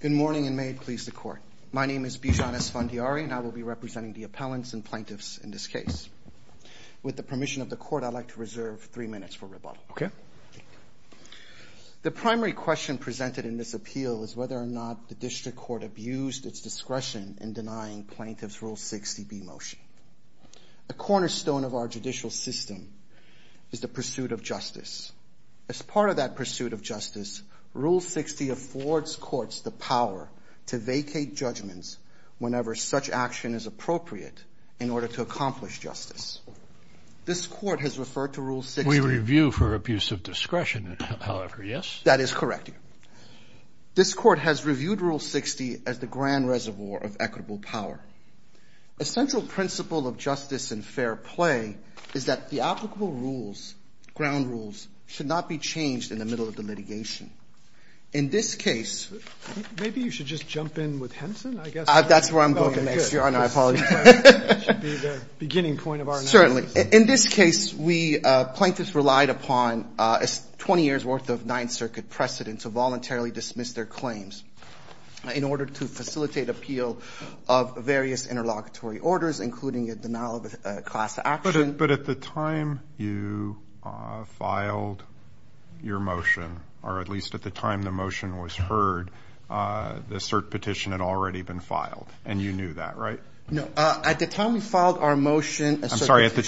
Good morning and may it please the Court. My name is Bijan Esfandiari and I will be representing the appellants and plaintiffs in this case. With the permission of the Court, I'd like to reserve three minutes for rebuttal. The primary question presented in this appeal is whether or not the District Court abused its discretion in denying Plaintiff's Rule 60B motion. A cornerstone of our judicial system is the pursuit of justice. As part of that pursuit of justice, Rule 60 affords courts the power to vacate judgments whenever such action is appropriate in order to accomplish justice. This Court has referred to Rule 60... We review for abuse of discretion, however, yes? That is correct. This Court has reviewed Rule 60 as the grand reservoir of equitable power. A central principle of justice and fair play is that the applicable rules, ground rules, should not be changed in the middle of the litigation. In this case... Maybe you should just jump in with Henson, I guess. That's where I'm going next, Your Honor. I apologize. That should be the beginning point of our analysis. Certainly. In this case, we plaintiffs relied upon 20 years' worth of Ninth Circuit precedent to voluntarily dismiss their claims. In order to facilitate appeal of various interlocutory orders, including a denial of class action... But at the time you filed your motion, or at least at the time the motion was heard, the cert petition had already been filed. And you knew that, right? No. At the time we filed our motion... I'm sorry. At the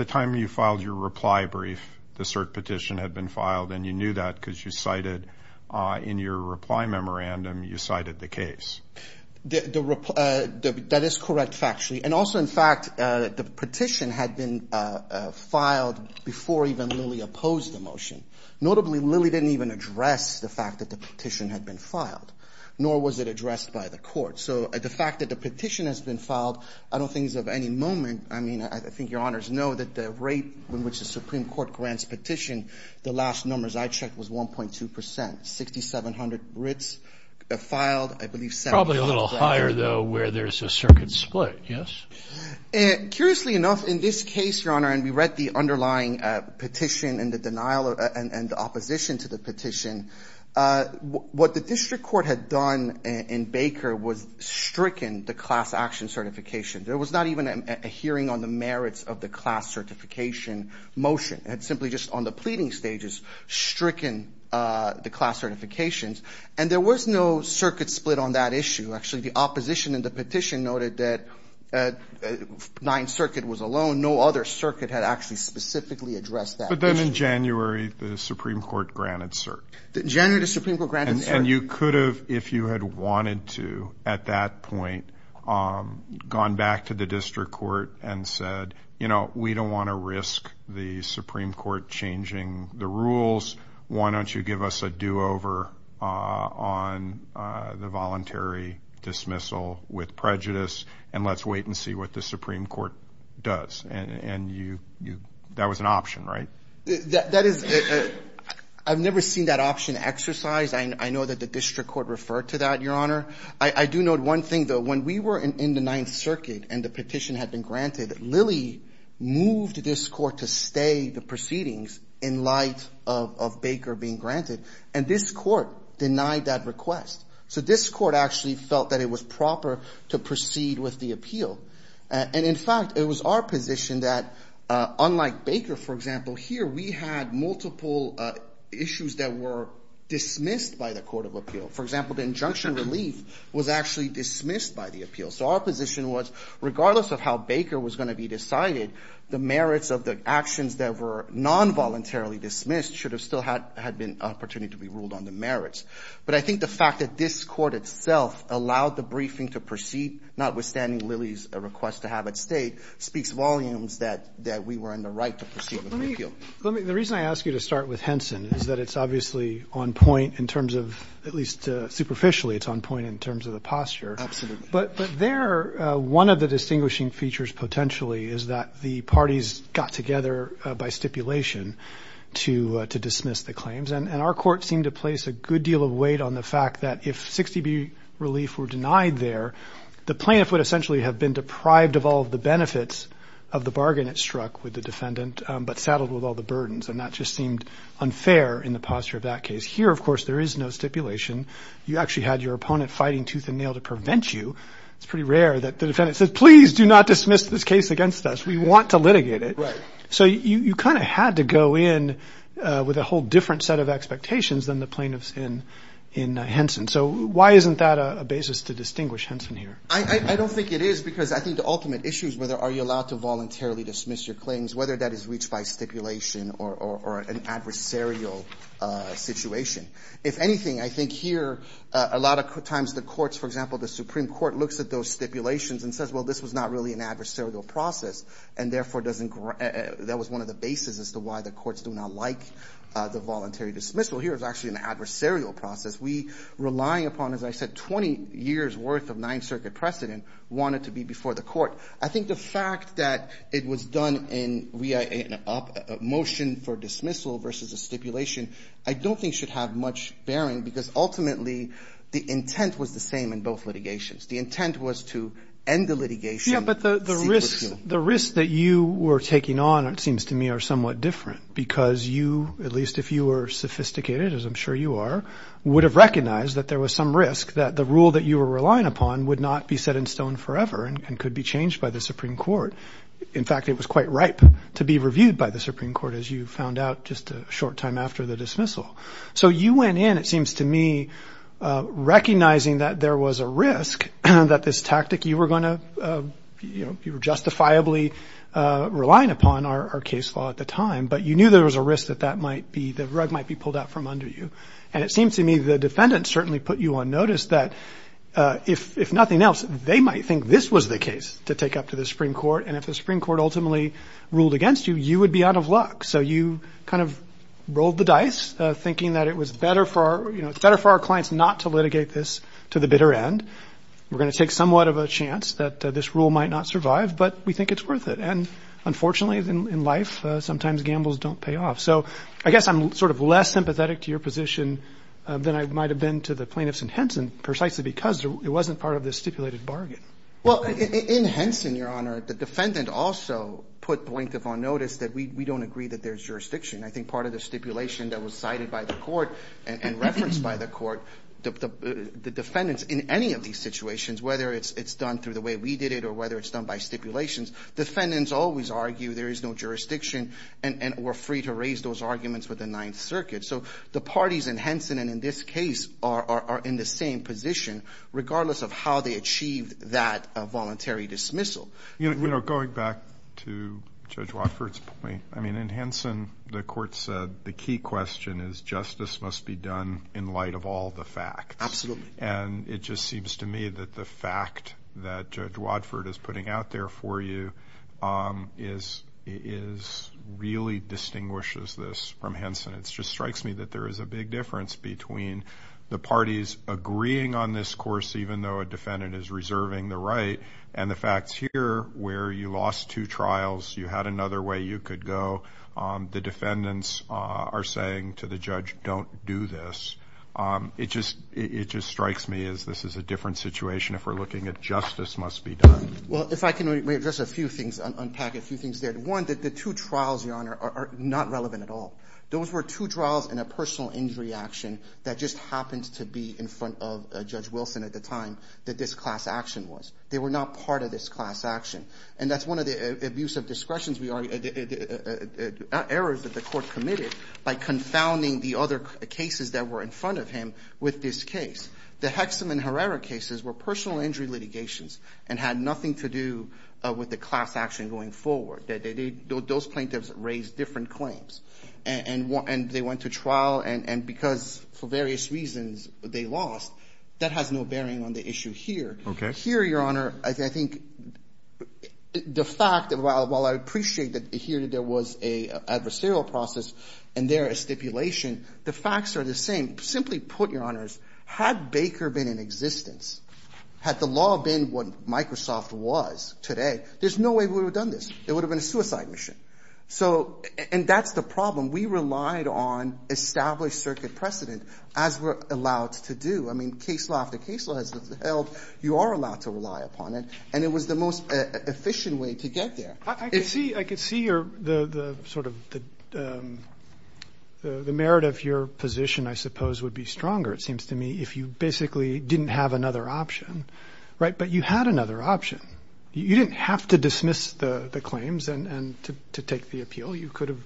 time you filed your reply brief, the cert petition had been filed. And you knew that because you cited, in your reply memorandum, you cited the case. That is correct, factually. And also, in fact, the petition had been filed before even Lilly opposed the motion. Notably, Lilly didn't even address the fact that the petition had been filed, nor was it addressed by the Court. So the fact that the petition has been filed, I don't think is of any moment... I mean, I think Your Honors know that the rate in which the Supreme Court grants petition, the last numbers I checked was 1.2 percent. 6,700 writs filed, I believe... Probably a little higher, though, where there's a circuit split, yes? Curiously enough, in this case, Your Honor, and we read the underlying petition and the denial and opposition to the petition, what the district court had done in Baker was stricken the class action certification. There was not even a hearing on the merits of the class certification motion. It had simply just, on the pleading stages, stricken the class certifications. And there was no circuit split on that issue. Actually, the opposition in the petition noted that 9th Circuit was alone. No other circuit had actually specifically addressed that issue. But then in January, the Supreme Court granted cert. In January, the Supreme Court granted cert. And you could have, if you had wanted to at that point, gone back to the district court and said, you know, we don't want to risk the Supreme Court changing the rules, why don't you give us a do-over on the voluntary dismissal with prejudice, and let's wait and see what the Supreme Court does. And that was an option, right? I've never seen that option exercised. I know that the district court referred to that, Your Honor. I do note one thing, though. When we were in the 9th Circuit and the petition had been granted, Lilly moved this court to stay the proceedings in light of Baker being granted, and this court denied that request. So this court actually felt that it was proper to proceed with the appeal. And, in fact, it was our position that, unlike Baker, for example, here we had multiple issues that were dismissed by the court of appeal. For example, the injunction relief was actually dismissed by the appeal. So our position was, regardless of how Baker was going to be decided, the merits of the actions that were non-voluntarily dismissed should have still had been an opportunity to be ruled on the merits. But I think the fact that this court itself allowed the briefing to proceed, notwithstanding Lilly's request to have it stayed, speaks volumes that we were in the right to proceed with the appeal. The reason I ask you to start with Henson is that it's obviously on point in terms of, at least superficially, it's on point in terms of the posture. Absolutely. But there, one of the distinguishing features, potentially, is that the parties got together by stipulation to dismiss the claims. And our court seemed to place a good deal of weight on the fact that, if 60B relief were denied there, the plaintiff would essentially have been deprived of all of the benefits of the bargain it struck with the defendant but saddled with all the burdens. And that just seemed unfair in the posture of that case. Here, of course, there is no stipulation. You actually had your opponent fighting tooth and nail to prevent you. It's pretty rare that the defendant says, please do not dismiss this case against us. We want to litigate it. So you kind of had to go in with a whole different set of expectations than the plaintiffs in Henson. So why isn't that a basis to distinguish Henson here? I don't think it is because I think the ultimate issue is whether are you allowed to voluntarily dismiss your claims, whether that is reached by stipulation or an adversarial situation. If anything, I think here a lot of times the courts, for example, the Supreme Court looks at those stipulations and says, well, this was not really an adversarial process and therefore that was one of the bases as to why the courts do not like the voluntary dismissal. Here it's actually an adversarial process. We rely upon, as I said, 20 years' worth of Ninth Circuit precedent wanted to be before the court. I think the fact that it was done in a motion for dismissal versus a stipulation I don't think should have much bearing because ultimately the intent was the same in both litigations. The intent was to end the litigation. Yeah, but the risks that you were taking on, it seems to me, are somewhat different because you, at least if you were sophisticated, as I'm sure you are, would have recognized that there was some risk that the rule that you were relying upon would not be set in stone forever and could be changed by the Supreme Court. In fact, it was quite ripe to be reviewed by the Supreme Court, as you found out just a short time after the dismissal. So you went in, it seems to me, recognizing that there was a risk that this tactic you were justifiably relying upon our case law at the time, but you knew there was a risk that the rug might be pulled out from under you. And it seems to me the defendant certainly put you on notice that, if nothing else, they might think this was the case to take up to the Supreme Court, and if the Supreme Court ultimately ruled against you, you would be out of luck. So you kind of rolled the dice, thinking that it was better for our clients not to litigate this to the bitter end. We're going to take somewhat of a chance that this rule might not survive, but we think it's worth it. And unfortunately, in life, sometimes gambles don't pay off. So I guess I'm sort of less sympathetic to your position than I might have been to the plaintiffs in Henson, precisely because it wasn't part of the stipulated bargain. Well, in Henson, Your Honor, the defendant also put point of on notice that we don't agree that there's jurisdiction. I think part of the stipulation that was cited by the court and referenced by the court, the defendants in any of these situations, whether it's done through the way we did it or whether it's done by stipulations, defendants always argue there is no jurisdiction and we're free to raise those arguments with the Ninth Circuit. So the parties in Henson and in this case are in the same position, regardless of how they achieved that voluntary dismissal. You know, going back to Judge Watford's point, I mean, in Henson, the court said the key question is justice must be done in light of all the facts. Absolutely. And it just seems to me that the fact that Judge Watford is putting out there for you really distinguishes this from Henson. It just strikes me that there is a big difference between the parties agreeing on this course, even though a defendant is reserving the right, and the facts here where you lost two trials, you had another way you could go, the defendants are saying to the judge, don't do this. It just strikes me as this is a different situation if we're looking at justice must be done. Well, if I can address a few things, unpack a few things there. One, the two trials, Your Honor, are not relevant at all. Those were two trials and a personal injury action that just happened to be in front of Judge Wilson at the time that this class action was. They were not part of this class action. And that's one of the abuse of discretion errors that the court committed by confounding the other cases that were in front of him with this case. The Hexham and Herrera cases were personal injury litigations and had nothing to do with the class action going forward. Those plaintiffs raised different claims, and they went to trial, and because for various reasons they lost, that has no bearing on the issue here. Okay. But here, Your Honor, I think the fact, while I appreciate that here there was an adversarial process and there a stipulation, the facts are the same. Simply put, Your Honors, had Baker been in existence, had the law been what Microsoft was today, there's no way we would have done this. It would have been a suicide mission. And that's the problem. We relied on established circuit precedent as we're allowed to do. I mean, case law after case law has held you are allowed to rely upon it, and it was the most efficient way to get there. I could see your sort of the merit of your position, I suppose, would be stronger, it seems to me, if you basically didn't have another option. But you had another option. You didn't have to dismiss the claims to take the appeal. You could have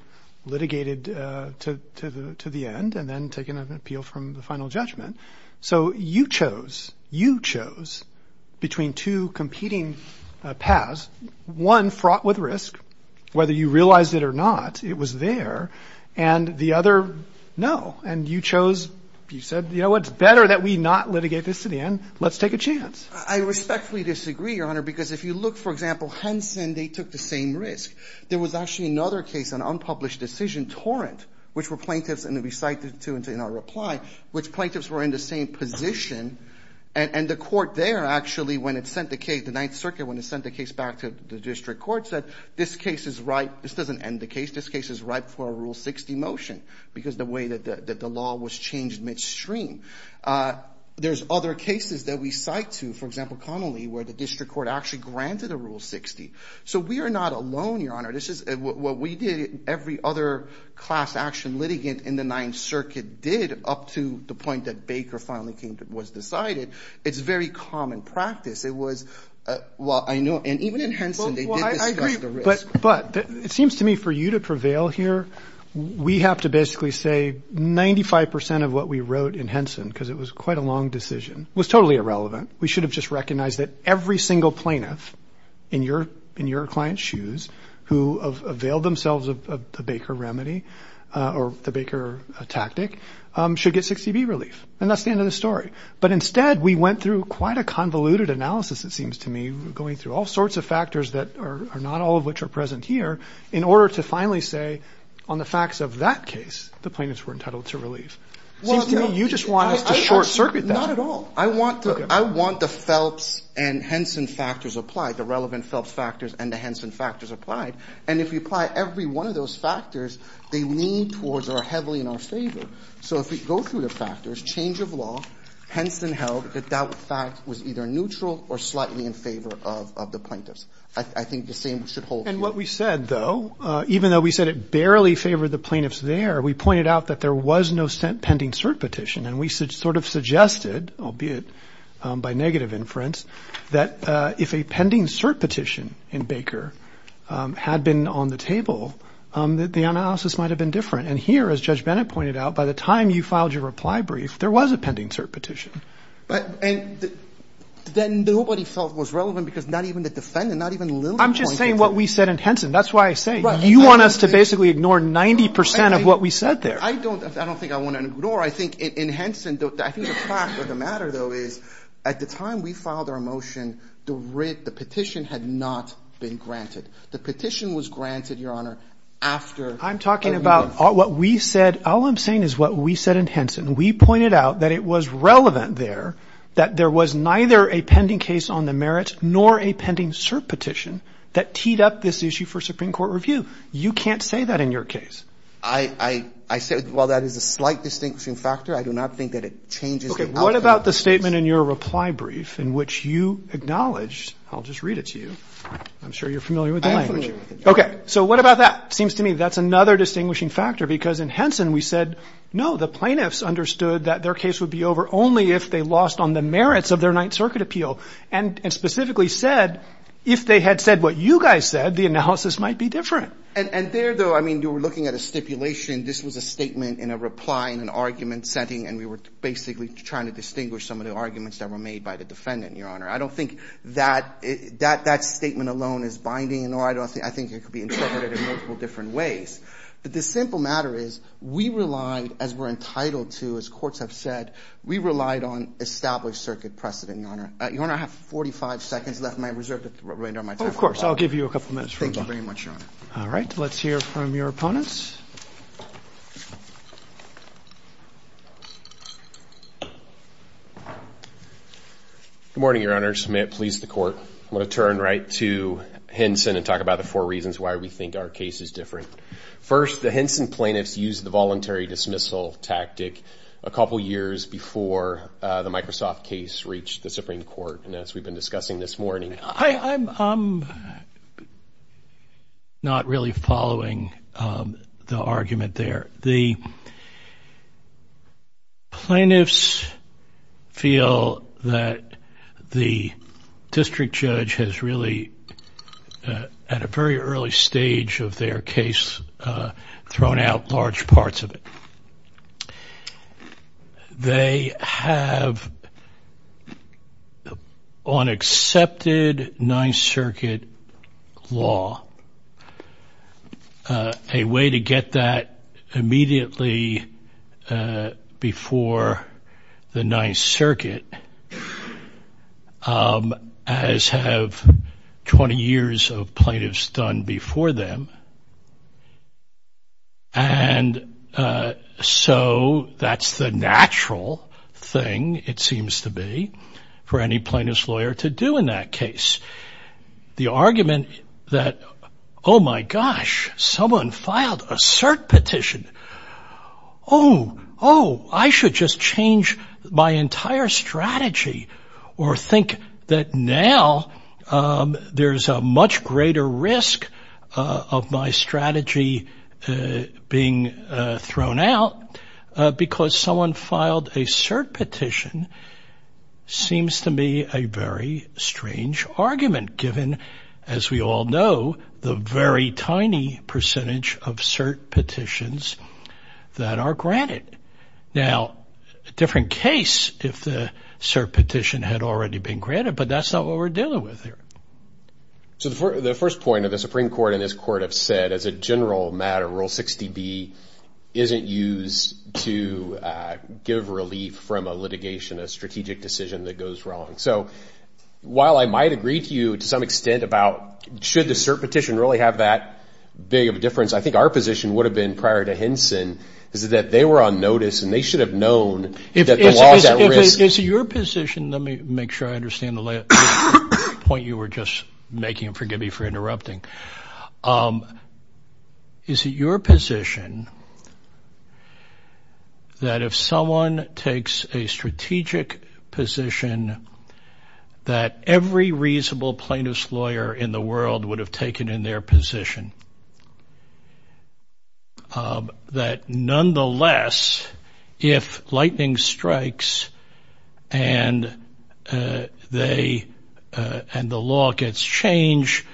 litigated to the end and then taken an appeal from the final judgment. So you chose, you chose between two competing paths, one fraught with risk. Whether you realized it or not, it was there. And the other, no. And you chose, you said, you know what, it's better that we not litigate this to the end. Let's take a chance. I respectfully disagree, Your Honor, because if you look, for example, Henson, they took the same risk. There was actually another case, an unpublished decision, Torrent, which were plaintiffs, and we cited it in our reply, which plaintiffs were in the same position. And the court there actually, when it sent the case, the Ninth Circuit, when it sent the case back to the district court, said this case is ripe. This doesn't end the case. This case is ripe for a Rule 60 motion because of the way that the law was changed midstream. There's other cases that we cite to, for example, Connolly, where the district court actually granted a Rule 60. So we are not alone, Your Honor. What we did, every other class action litigant in the Ninth Circuit did up to the point that Baker finally was decided. It's very common practice. It was, well, I know, and even in Henson, they did discuss the risk. But it seems to me for you to prevail here, we have to basically say 95 percent of what we wrote in Henson, because it was quite a long decision, was totally irrelevant. We should have just recognized that every single plaintiff in your client's shoes who availed themselves of the Baker remedy or the Baker tactic should get 60B relief. And that's the end of the story. But instead, we went through quite a convoluted analysis, it seems to me, going through all sorts of factors that are not all of which are present here, in order to finally say on the facts of that case the plaintiffs were entitled to relief. It seems to me you just want us to short circuit that. Not at all. I want the Phelps and Henson factors applied, the relevant Phelps factors and the Henson factors applied. And if you apply every one of those factors, they lean towards or are heavily in our favor. So if we go through the factors, change of law, Henson held that that fact was either neutral or slightly in favor of the plaintiffs. I think the same should hold true. And what we said, though, even though we said it barely favored the plaintiffs there, we pointed out that there was no pending cert petition. And we sort of suggested, albeit by negative inference, that if a pending cert petition in Baker had been on the table, that the analysis might have been different. And here, as Judge Bennett pointed out, by the time you filed your reply brief, there was a pending cert petition. But then nobody felt it was relevant because not even the defendant, not even Lily pointed to it. I'm just saying what we said in Henson. That's why I say you want us to basically ignore 90 percent of what we said there. I don't think I want to ignore. I think in Henson, I think the fact of the matter, though, is at the time we filed our motion, the petition had not been granted. The petition was granted, Your Honor, after a month. I'm talking about what we said. All I'm saying is what we said in Henson. We pointed out that it was relevant there, that there was neither a pending case on the You can't say that in your case. I said while that is a slight distinguishing factor, I do not think that it changes the outcome. Okay. What about the statement in your reply brief in which you acknowledged, I'll just read it to you. I'm sure you're familiar with the language. I am familiar with it. Okay. So what about that? It seems to me that's another distinguishing factor because in Henson, we said, no, the plaintiffs understood that their case would be over only if they lost on the merits of their Ninth Circuit appeal and specifically said if they had said what you guys said, the analysis might be different. And there, though, I mean, you were looking at a stipulation. This was a statement in a reply in an argument setting, and we were basically trying to distinguish some of the arguments that were made by the defendant, Your Honor. I don't think that statement alone is binding. I think it could be interpreted in multiple different ways. But the simple matter is we relied, as we're entitled to, as courts have said, we relied on established circuit precedent, Your Honor. Your Honor, I have 45 seconds left. Am I reserved to throw it right now? Of course. I'll give you a couple minutes. Thank you very much, Your Honor. All right. Let's hear from your opponents. Good morning, Your Honors. May it please the Court. I want to turn right to Henson and talk about the four reasons why we think our case is different. First, the Henson plaintiffs used the voluntary dismissal tactic a couple years before the Microsoft case reached the Supreme Court, and as we've been discussing this morning. I'm not really following the argument there. The plaintiffs feel that the district judge has really, at a very early stage of their case, thrown out large parts of it. They have, on accepted Ninth Circuit law, a way to get that immediately before the Ninth Circuit, as have 20 years of plaintiffs done before them. And so that's the natural thing, it seems to be, for any plaintiff's lawyer to do in that case. The argument that, oh, my gosh, someone filed a cert petition. Oh, oh, I should just change my entire strategy or think that now there's a much greater risk of my strategy being thrown out because someone filed a cert petition seems to me a very strange argument, given, as we all know, the very tiny percentage of cert petitions that are granted. Now, a different case if the cert petition had already been granted, but that's not what we're dealing with here. So the first point of the Supreme Court and this Court have said, as a general matter, Rule 60B isn't used to give relief from a litigation, a strategic decision that goes wrong. So while I might agree to you to some extent about should the cert petition really have that big of a difference, I think our position would have been prior to Henson is that they were on notice and they should have known that the law is at risk. Is it your position, let me make sure I understand the point you were just making, forgive me for interrupting. Is it your position that if someone takes a strategic position that every reasonable plaintiff's lawyer in the world would have taken in their position? That nonetheless, if lightning strikes and the law gets changed,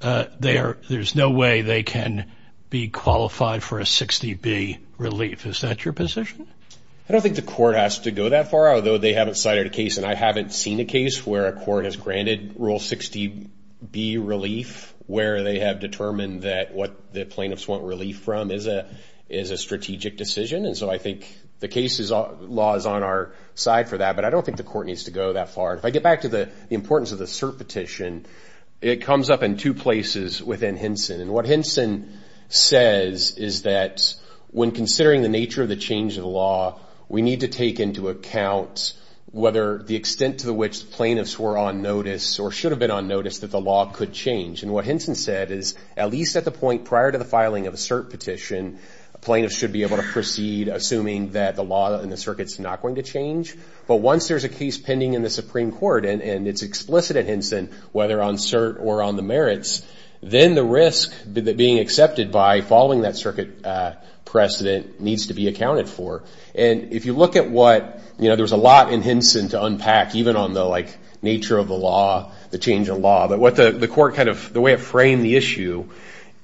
there's no way they can be qualified for a 60B relief. Is that your position? I don't think the court has to go that far, although they haven't cited a case and I haven't seen a case where a court has granted Rule 60B relief where they have determined that what the plaintiffs want relief from is a strategic decision. And so I think the case law is on our side for that, but I don't think the court needs to go that far. If I get back to the importance of the cert petition, it comes up in two places within Henson. And what Henson says is that when considering the nature of the change of the law, we need to take into account whether the extent to which plaintiffs were on notice or should have been on notice that the law could change. And what Henson said is at least at the point prior to the filing of a cert petition, plaintiffs should be able to proceed assuming that the law and the circuit's not going to change. But once there's a case pending in the Supreme Court and it's explicit at Henson, whether on cert or on the merits, then the risk being accepted by following that circuit precedent needs to be accounted for. And if you look at what, you know, there's a lot in Henson to unpack, even on the, like, nature of the law, the change of law, but what the court kind of, the way it framed the issue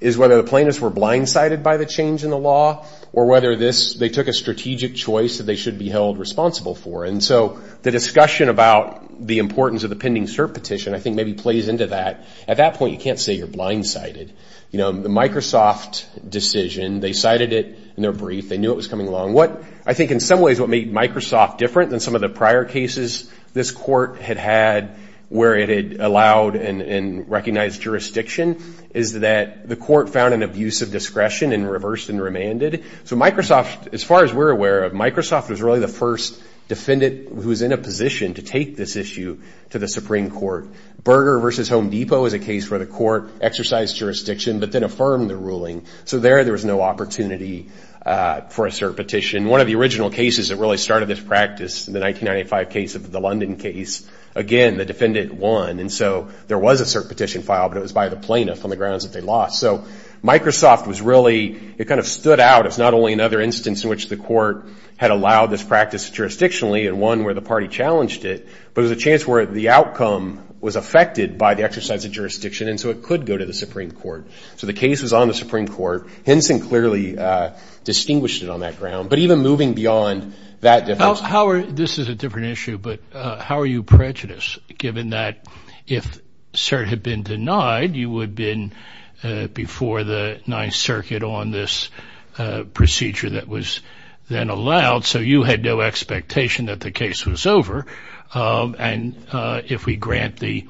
is whether the plaintiffs were blindsided by the change in the law or whether this, they took a strategic choice that they should be held responsible for. And so the discussion about the importance of the pending cert petition I think maybe plays into that. At that point, you can't say you're blindsided. You know, the Microsoft decision, they cited it in their brief. They knew it was coming along. What I think in some ways what made Microsoft different than some of the prior cases this court had had where it had allowed and recognized jurisdiction is that the court found an abuse of discretion and reversed and remanded. So Microsoft, as far as we're aware of, Microsoft was really the first defendant who was in a position to take this issue to the Supreme Court. Berger v. Home Depot is a case where the court exercised jurisdiction but then affirmed the ruling. So there, there was no opportunity for a cert petition. One of the original cases that really started this practice, the 1995 case of the London case, again, the defendant won. And so there was a cert petition filed, but it was by the plaintiff on the grounds that they lost. So Microsoft was really, it kind of stood out as not only another instance in which the court had allowed this practice jurisdictionally and one where the party challenged it, but it was a chance where the outcome was affected by the exercise of jurisdiction and so it could go to the Supreme Court. So the case was on the Supreme Court. Henson clearly distinguished it on that ground. But even moving beyond that difference. How are, this is a different issue, but how are you prejudiced given that if cert had been denied, you would have been before the Ninth Circuit on this procedure that was then allowed, so you had no expectation that the case was over. And if we grant the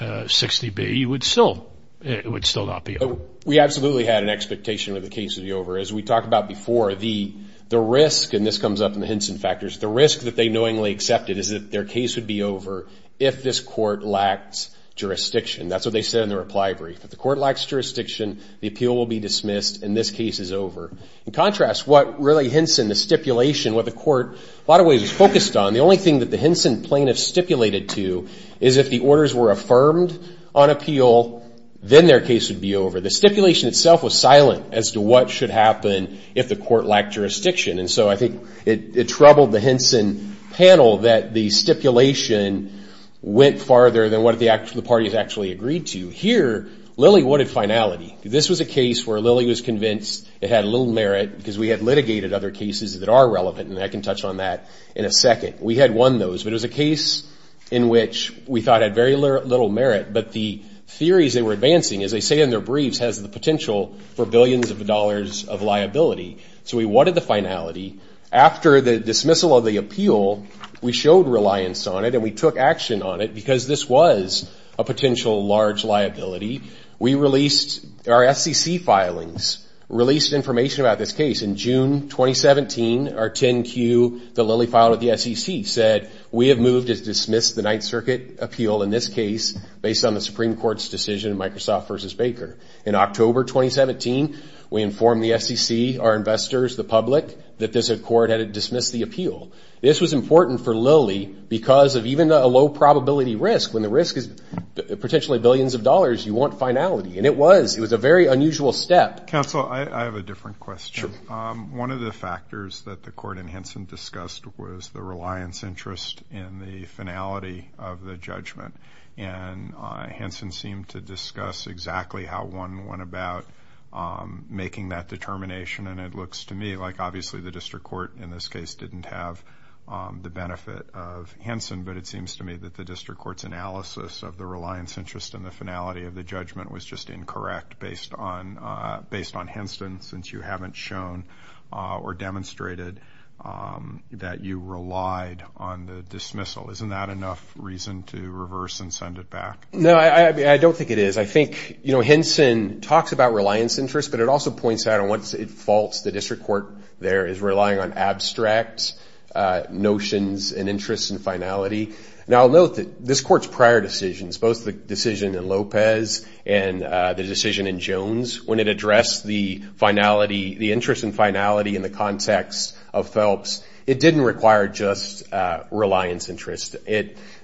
60B, you would still, it would still not be over. We absolutely had an expectation that the case would be over. As we talked about before, the risk, and this comes up in the Henson factors, the risk that they knowingly accepted is that their case would be over if this court lacked jurisdiction. That's what they said in the reply brief. If the court lacks jurisdiction, the appeal will be dismissed and this case is over. In contrast, what really Henson, the stipulation, what the court a lot of ways was focused on, the only thing that the Henson plaintiff stipulated to is if the orders were affirmed on appeal, then their case would be over. The stipulation itself was silent as to what should happen if the court lacked jurisdiction, and so I think it troubled the Henson panel that the stipulation went farther than what the parties actually agreed to. Here, Lilly wanted finality. This was a case where Lilly was convinced it had little merit because we had litigated other cases that are relevant, and I can touch on that in a second. We had won those, but it was a case in which we thought had very little merit, but the theories they were advancing, as they say in their briefs, has the potential for billions of dollars of liability. So we wanted the finality. After the dismissal of the appeal, we showed reliance on it and we took action on it because this was a potential large liability. We released our SEC filings, released information about this case. In June 2017, our 10Q that Lilly filed with the SEC said, we have moved to dismiss the Ninth Circuit appeal in this case based on the Supreme Court's decision in Microsoft v. Baker. In October 2017, we informed the SEC, our investors, the public, that this court had dismissed the appeal. This was important for Lilly because of even a low probability risk, when the risk is potentially billions of dollars, you want finality. And it was. It was a very unusual step. Counsel, I have a different question. One of the factors that the court in Henson discussed was the reliance interest in the finality of the judgment. And Henson seemed to discuss exactly how one went about making that determination, and it looks to me like obviously the district court in this case didn't have the benefit of Henson, but it seems to me that the district court's analysis of the reliance interest in the finality of the judgment was just incorrect based on Henson, since you haven't shown or demonstrated that you relied on the dismissal. Isn't that enough reason to reverse and send it back? No, I don't think it is. I think Henson talks about reliance interest, but it also points out once it faults the district court there is relying on abstract notions and interests and finality. Now, note that this court's prior decisions, both the decision in Lopez and the decision in Jones, when it addressed the interest and finality in the context of Phelps, it didn't require just reliance interest.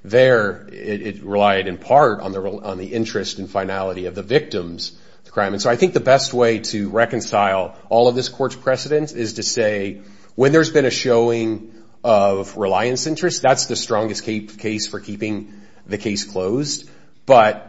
There it relied in part on the interest and finality of the victims of the crime. And so I think the best way to reconcile all of this court's precedents is to say when there's been a showing of reliance interest, that's the strongest case for keeping the case closed. But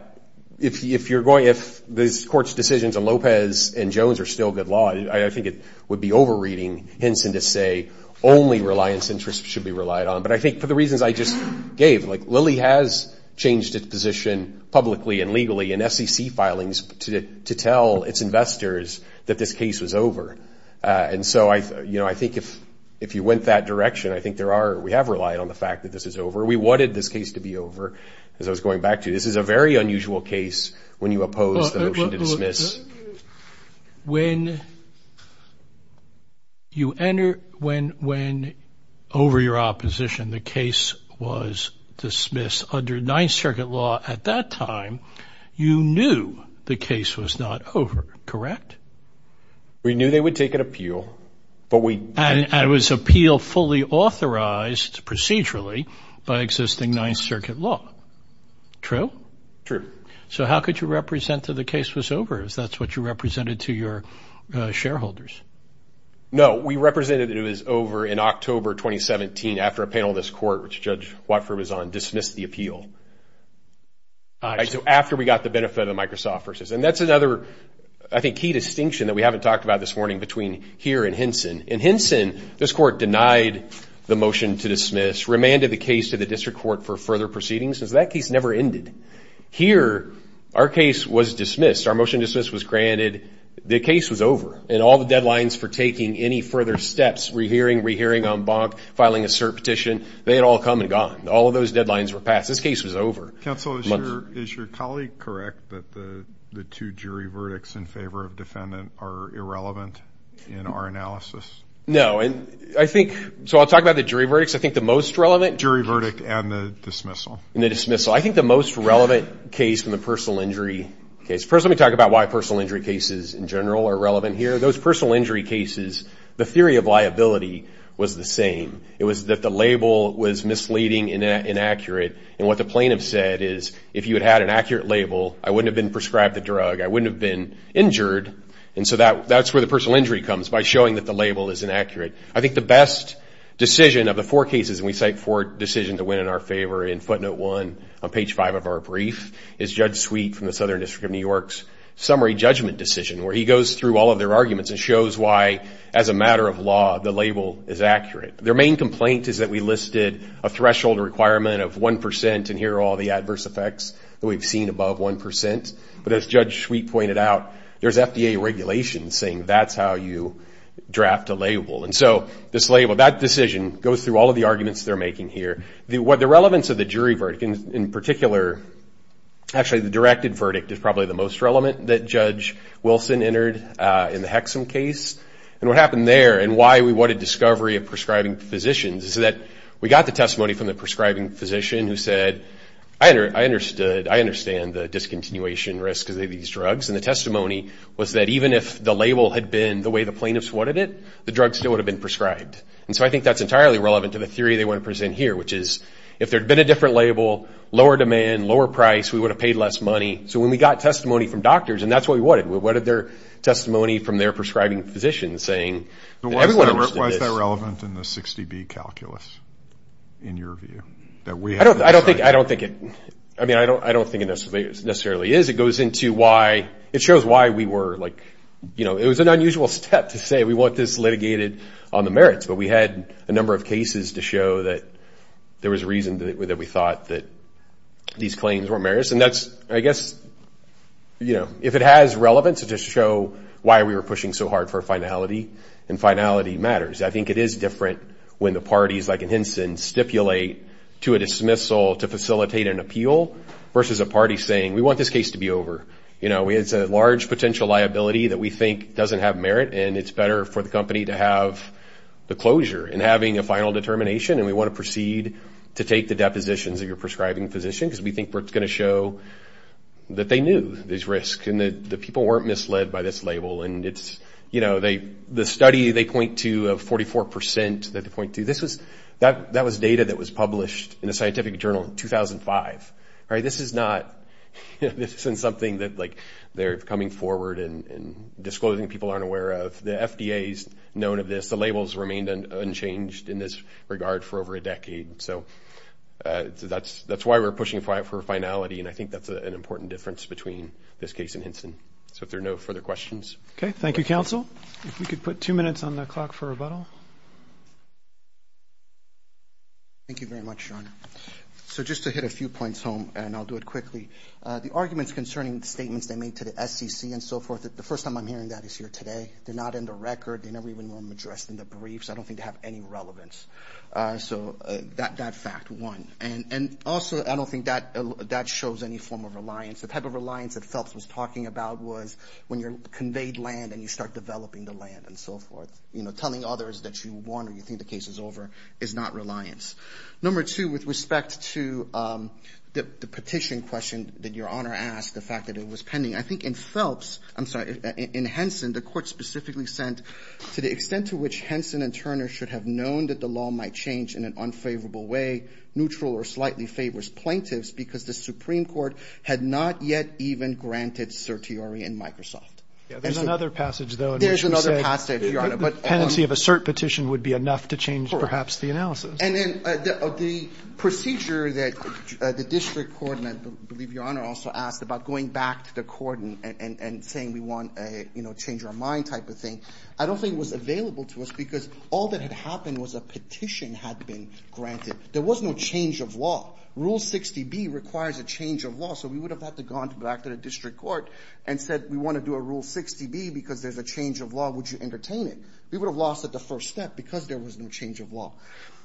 if this court's decisions in Lopez and Jones are still good law, I think it would be over-reading Henson to say only reliance interest should be relied on. But I think for the reasons I just gave, like Lilly has changed its position publicly and legally in SEC filings to tell its investors that this case was over. And so I think if you went that direction, I think we have relied on the fact that this is over. We wanted this case to be over. As I was going back to you, this is a very unusual case when you oppose the motion to dismiss. When you enter, when over your opposition the case was dismissed, under Ninth Circuit law at that time, you knew the case was not over, correct? We knew they would take an appeal, but we didn't. And it was appeal fully authorized procedurally by existing Ninth Circuit law. True? True. So how could you represent that the case was over? Is that what you represented to your shareholders? No, we represented it was over in October 2017 after a panel in this court, which Judge Watford was on, dismissed the appeal. So after we got the benefit of the Microsoft versus. And that's another, I think, key distinction that we haven't talked about this morning between here and Henson. In Henson, this court denied the motion to dismiss, remanded the case to the district court for further proceedings. That case never ended. Here, our case was dismissed. Our motion to dismiss was granted. The case was over. And all the deadlines for taking any further steps, rehearing, rehearing, en banc, filing a cert petition, they had all come and gone. All of those deadlines were passed. This case was over. Counsel, is your colleague correct that the two jury verdicts in favor of defendant are irrelevant in our analysis? No. I think, so I'll talk about the jury verdicts. I think the most relevant. Jury verdict and the dismissal. And the dismissal. I think the most relevant case from the personal injury case. First, let me talk about why personal injury cases in general are relevant here. Those personal injury cases, the theory of liability was the same. It was that the label was misleading and inaccurate. And what the plaintiff said is, if you had had an accurate label, I wouldn't have been prescribed the drug. I wouldn't have been injured. And so that's where the personal injury comes, by showing that the label is inaccurate. I think the best decision of the four cases, and we cite four decisions that went in our favor in footnote one on page five of our brief, is Judge Sweet from the Southern District of New York's summary judgment decision, where he goes through all of their arguments and shows why, as a matter of law, the label is accurate. Their main complaint is that we listed a threshold requirement of 1%, and here are all the adverse effects that we've seen above 1%. But as Judge Sweet pointed out, there's FDA regulation saying that's how you draft a label. And so this label, that decision, goes through all of the arguments they're making here. The relevance of the jury verdict, in particular, actually the directed verdict, is probably the most relevant that Judge Wilson entered in the Hexum case. And what happened there and why we wanted discovery of prescribing physicians is that we got the testimony from the prescribing physician who said, I understand the discontinuation risk of these drugs, and the testimony was that even if the label had been the way the plaintiffs wanted it, the drug still would have been prescribed. And so I think that's entirely relevant to the theory they want to present here, which is if there had been a different label, lower demand, lower price, we would have paid less money. So when we got testimony from doctors, and that's what we wanted, we wanted their testimony from their prescribing physician saying that everyone else did this. Why is that relevant in the 60B calculus, in your view? I don't think it necessarily is. It goes into why – it shows why we were like – it was an unusual step to say we want this litigated on the merits, but we had a number of cases to show that there was reason that we thought that these claims were merits. And that's, I guess, if it has relevance to show why we were pushing so hard for finality, and finality matters. I think it is different when the parties, like in Hinson, stipulate to a dismissal to facilitate an appeal versus a party saying we want this case to be over. You know, it's a large potential liability that we think doesn't have merit, and it's better for the company to have the closure and having a final determination, and we want to proceed to take the depositions of your prescribing physician because we think we're going to show that they knew there's risk and that the people weren't misled by this label. And it's – you know, the study they point to of 44 percent that they point to, that was data that was published in a scientific journal in 2005, right? This is not – this isn't something that, like, they're coming forward and disclosing people aren't aware of. The FDA's known of this. The labels remained unchanged in this regard for over a decade. So that's why we're pushing for finality, and I think that's an important difference between this case and Hinson. So if there are no further questions. Okay, thank you, counsel. If we could put two minutes on the clock for rebuttal. Thank you very much, John. So just to hit a few points home, and I'll do it quickly. The arguments concerning statements they made to the SEC and so forth, the first time I'm hearing that is here today. They're not in the record. They never even were addressed in the briefs. I don't think they have any relevance. So that fact, one. And also, I don't think that shows any form of reliance. The type of reliance that Phelps was talking about was when you're conveyed land and you start developing the land and so forth. You know, telling others that you won or you think the case is over is not reliance. Number two, with respect to the petition question that Your Honor asked, the fact that it was pending, I think in Phelps, I'm sorry, in Hinson, the court specifically said, to the extent to which Hinson and Turner should have known that the law might change in an unfavorable way, neutral or slightly favors plaintiffs because the Supreme Court had not yet even granted certiorari in Microsoft. There's another passage, though. There's another passage, Your Honor. The pendency of a cert petition would be enough to change perhaps the analysis. And then the procedure that the district court, and I believe Your Honor also asked, about going back to the court and saying we want to change our mind type of thing, I don't think was available to us because all that had happened was a petition had been granted. There was no change of law. Rule 60B requires a change of law, so we would have had to go back to the district court and said we want to do a Rule 60B because there's a change of law. Would you entertain it? We would have lost at the first step because there was no change of law.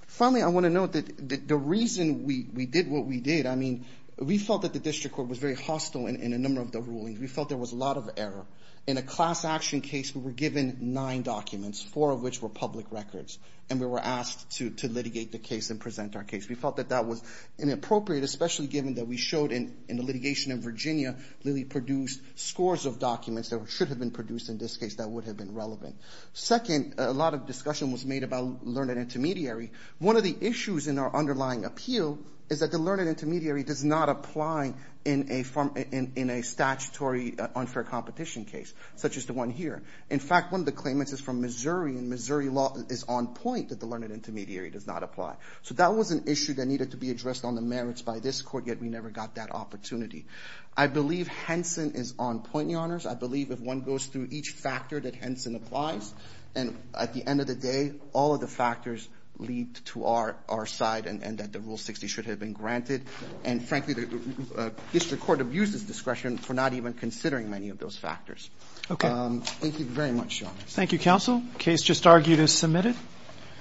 Finally, I want to note that the reason we did what we did, I mean, we felt that the district court was very hostile in a number of the rulings. We felt there was a lot of error. In a class action case, we were given nine documents, four of which were public records, and we were asked to litigate the case and present our case. We felt that that was inappropriate, especially given that we showed in the litigation in Virginia that we produced scores of documents that should have been produced in this case that would have been relevant. Second, a lot of discussion was made about learned intermediary. One of the issues in our underlying appeal is that the learned intermediary does not apply in a statutory unfair competition case such as the one here. In fact, one of the claimants is from Missouri, and Missouri law is on point that the learned intermediary does not apply. So that was an issue that needed to be addressed on the merits by this court, yet we never got that opportunity. I believe Henson is on point, Your Honors. I believe if one goes through each factor that Henson applies, then at the end of the day all of the factors lead to our side and that the Rule 60 should have been granted. And frankly, the district court abuses discretion for not even considering many of those factors. Thank you very much, Your Honors. Thank you, Counsel. The case just argued is submitted.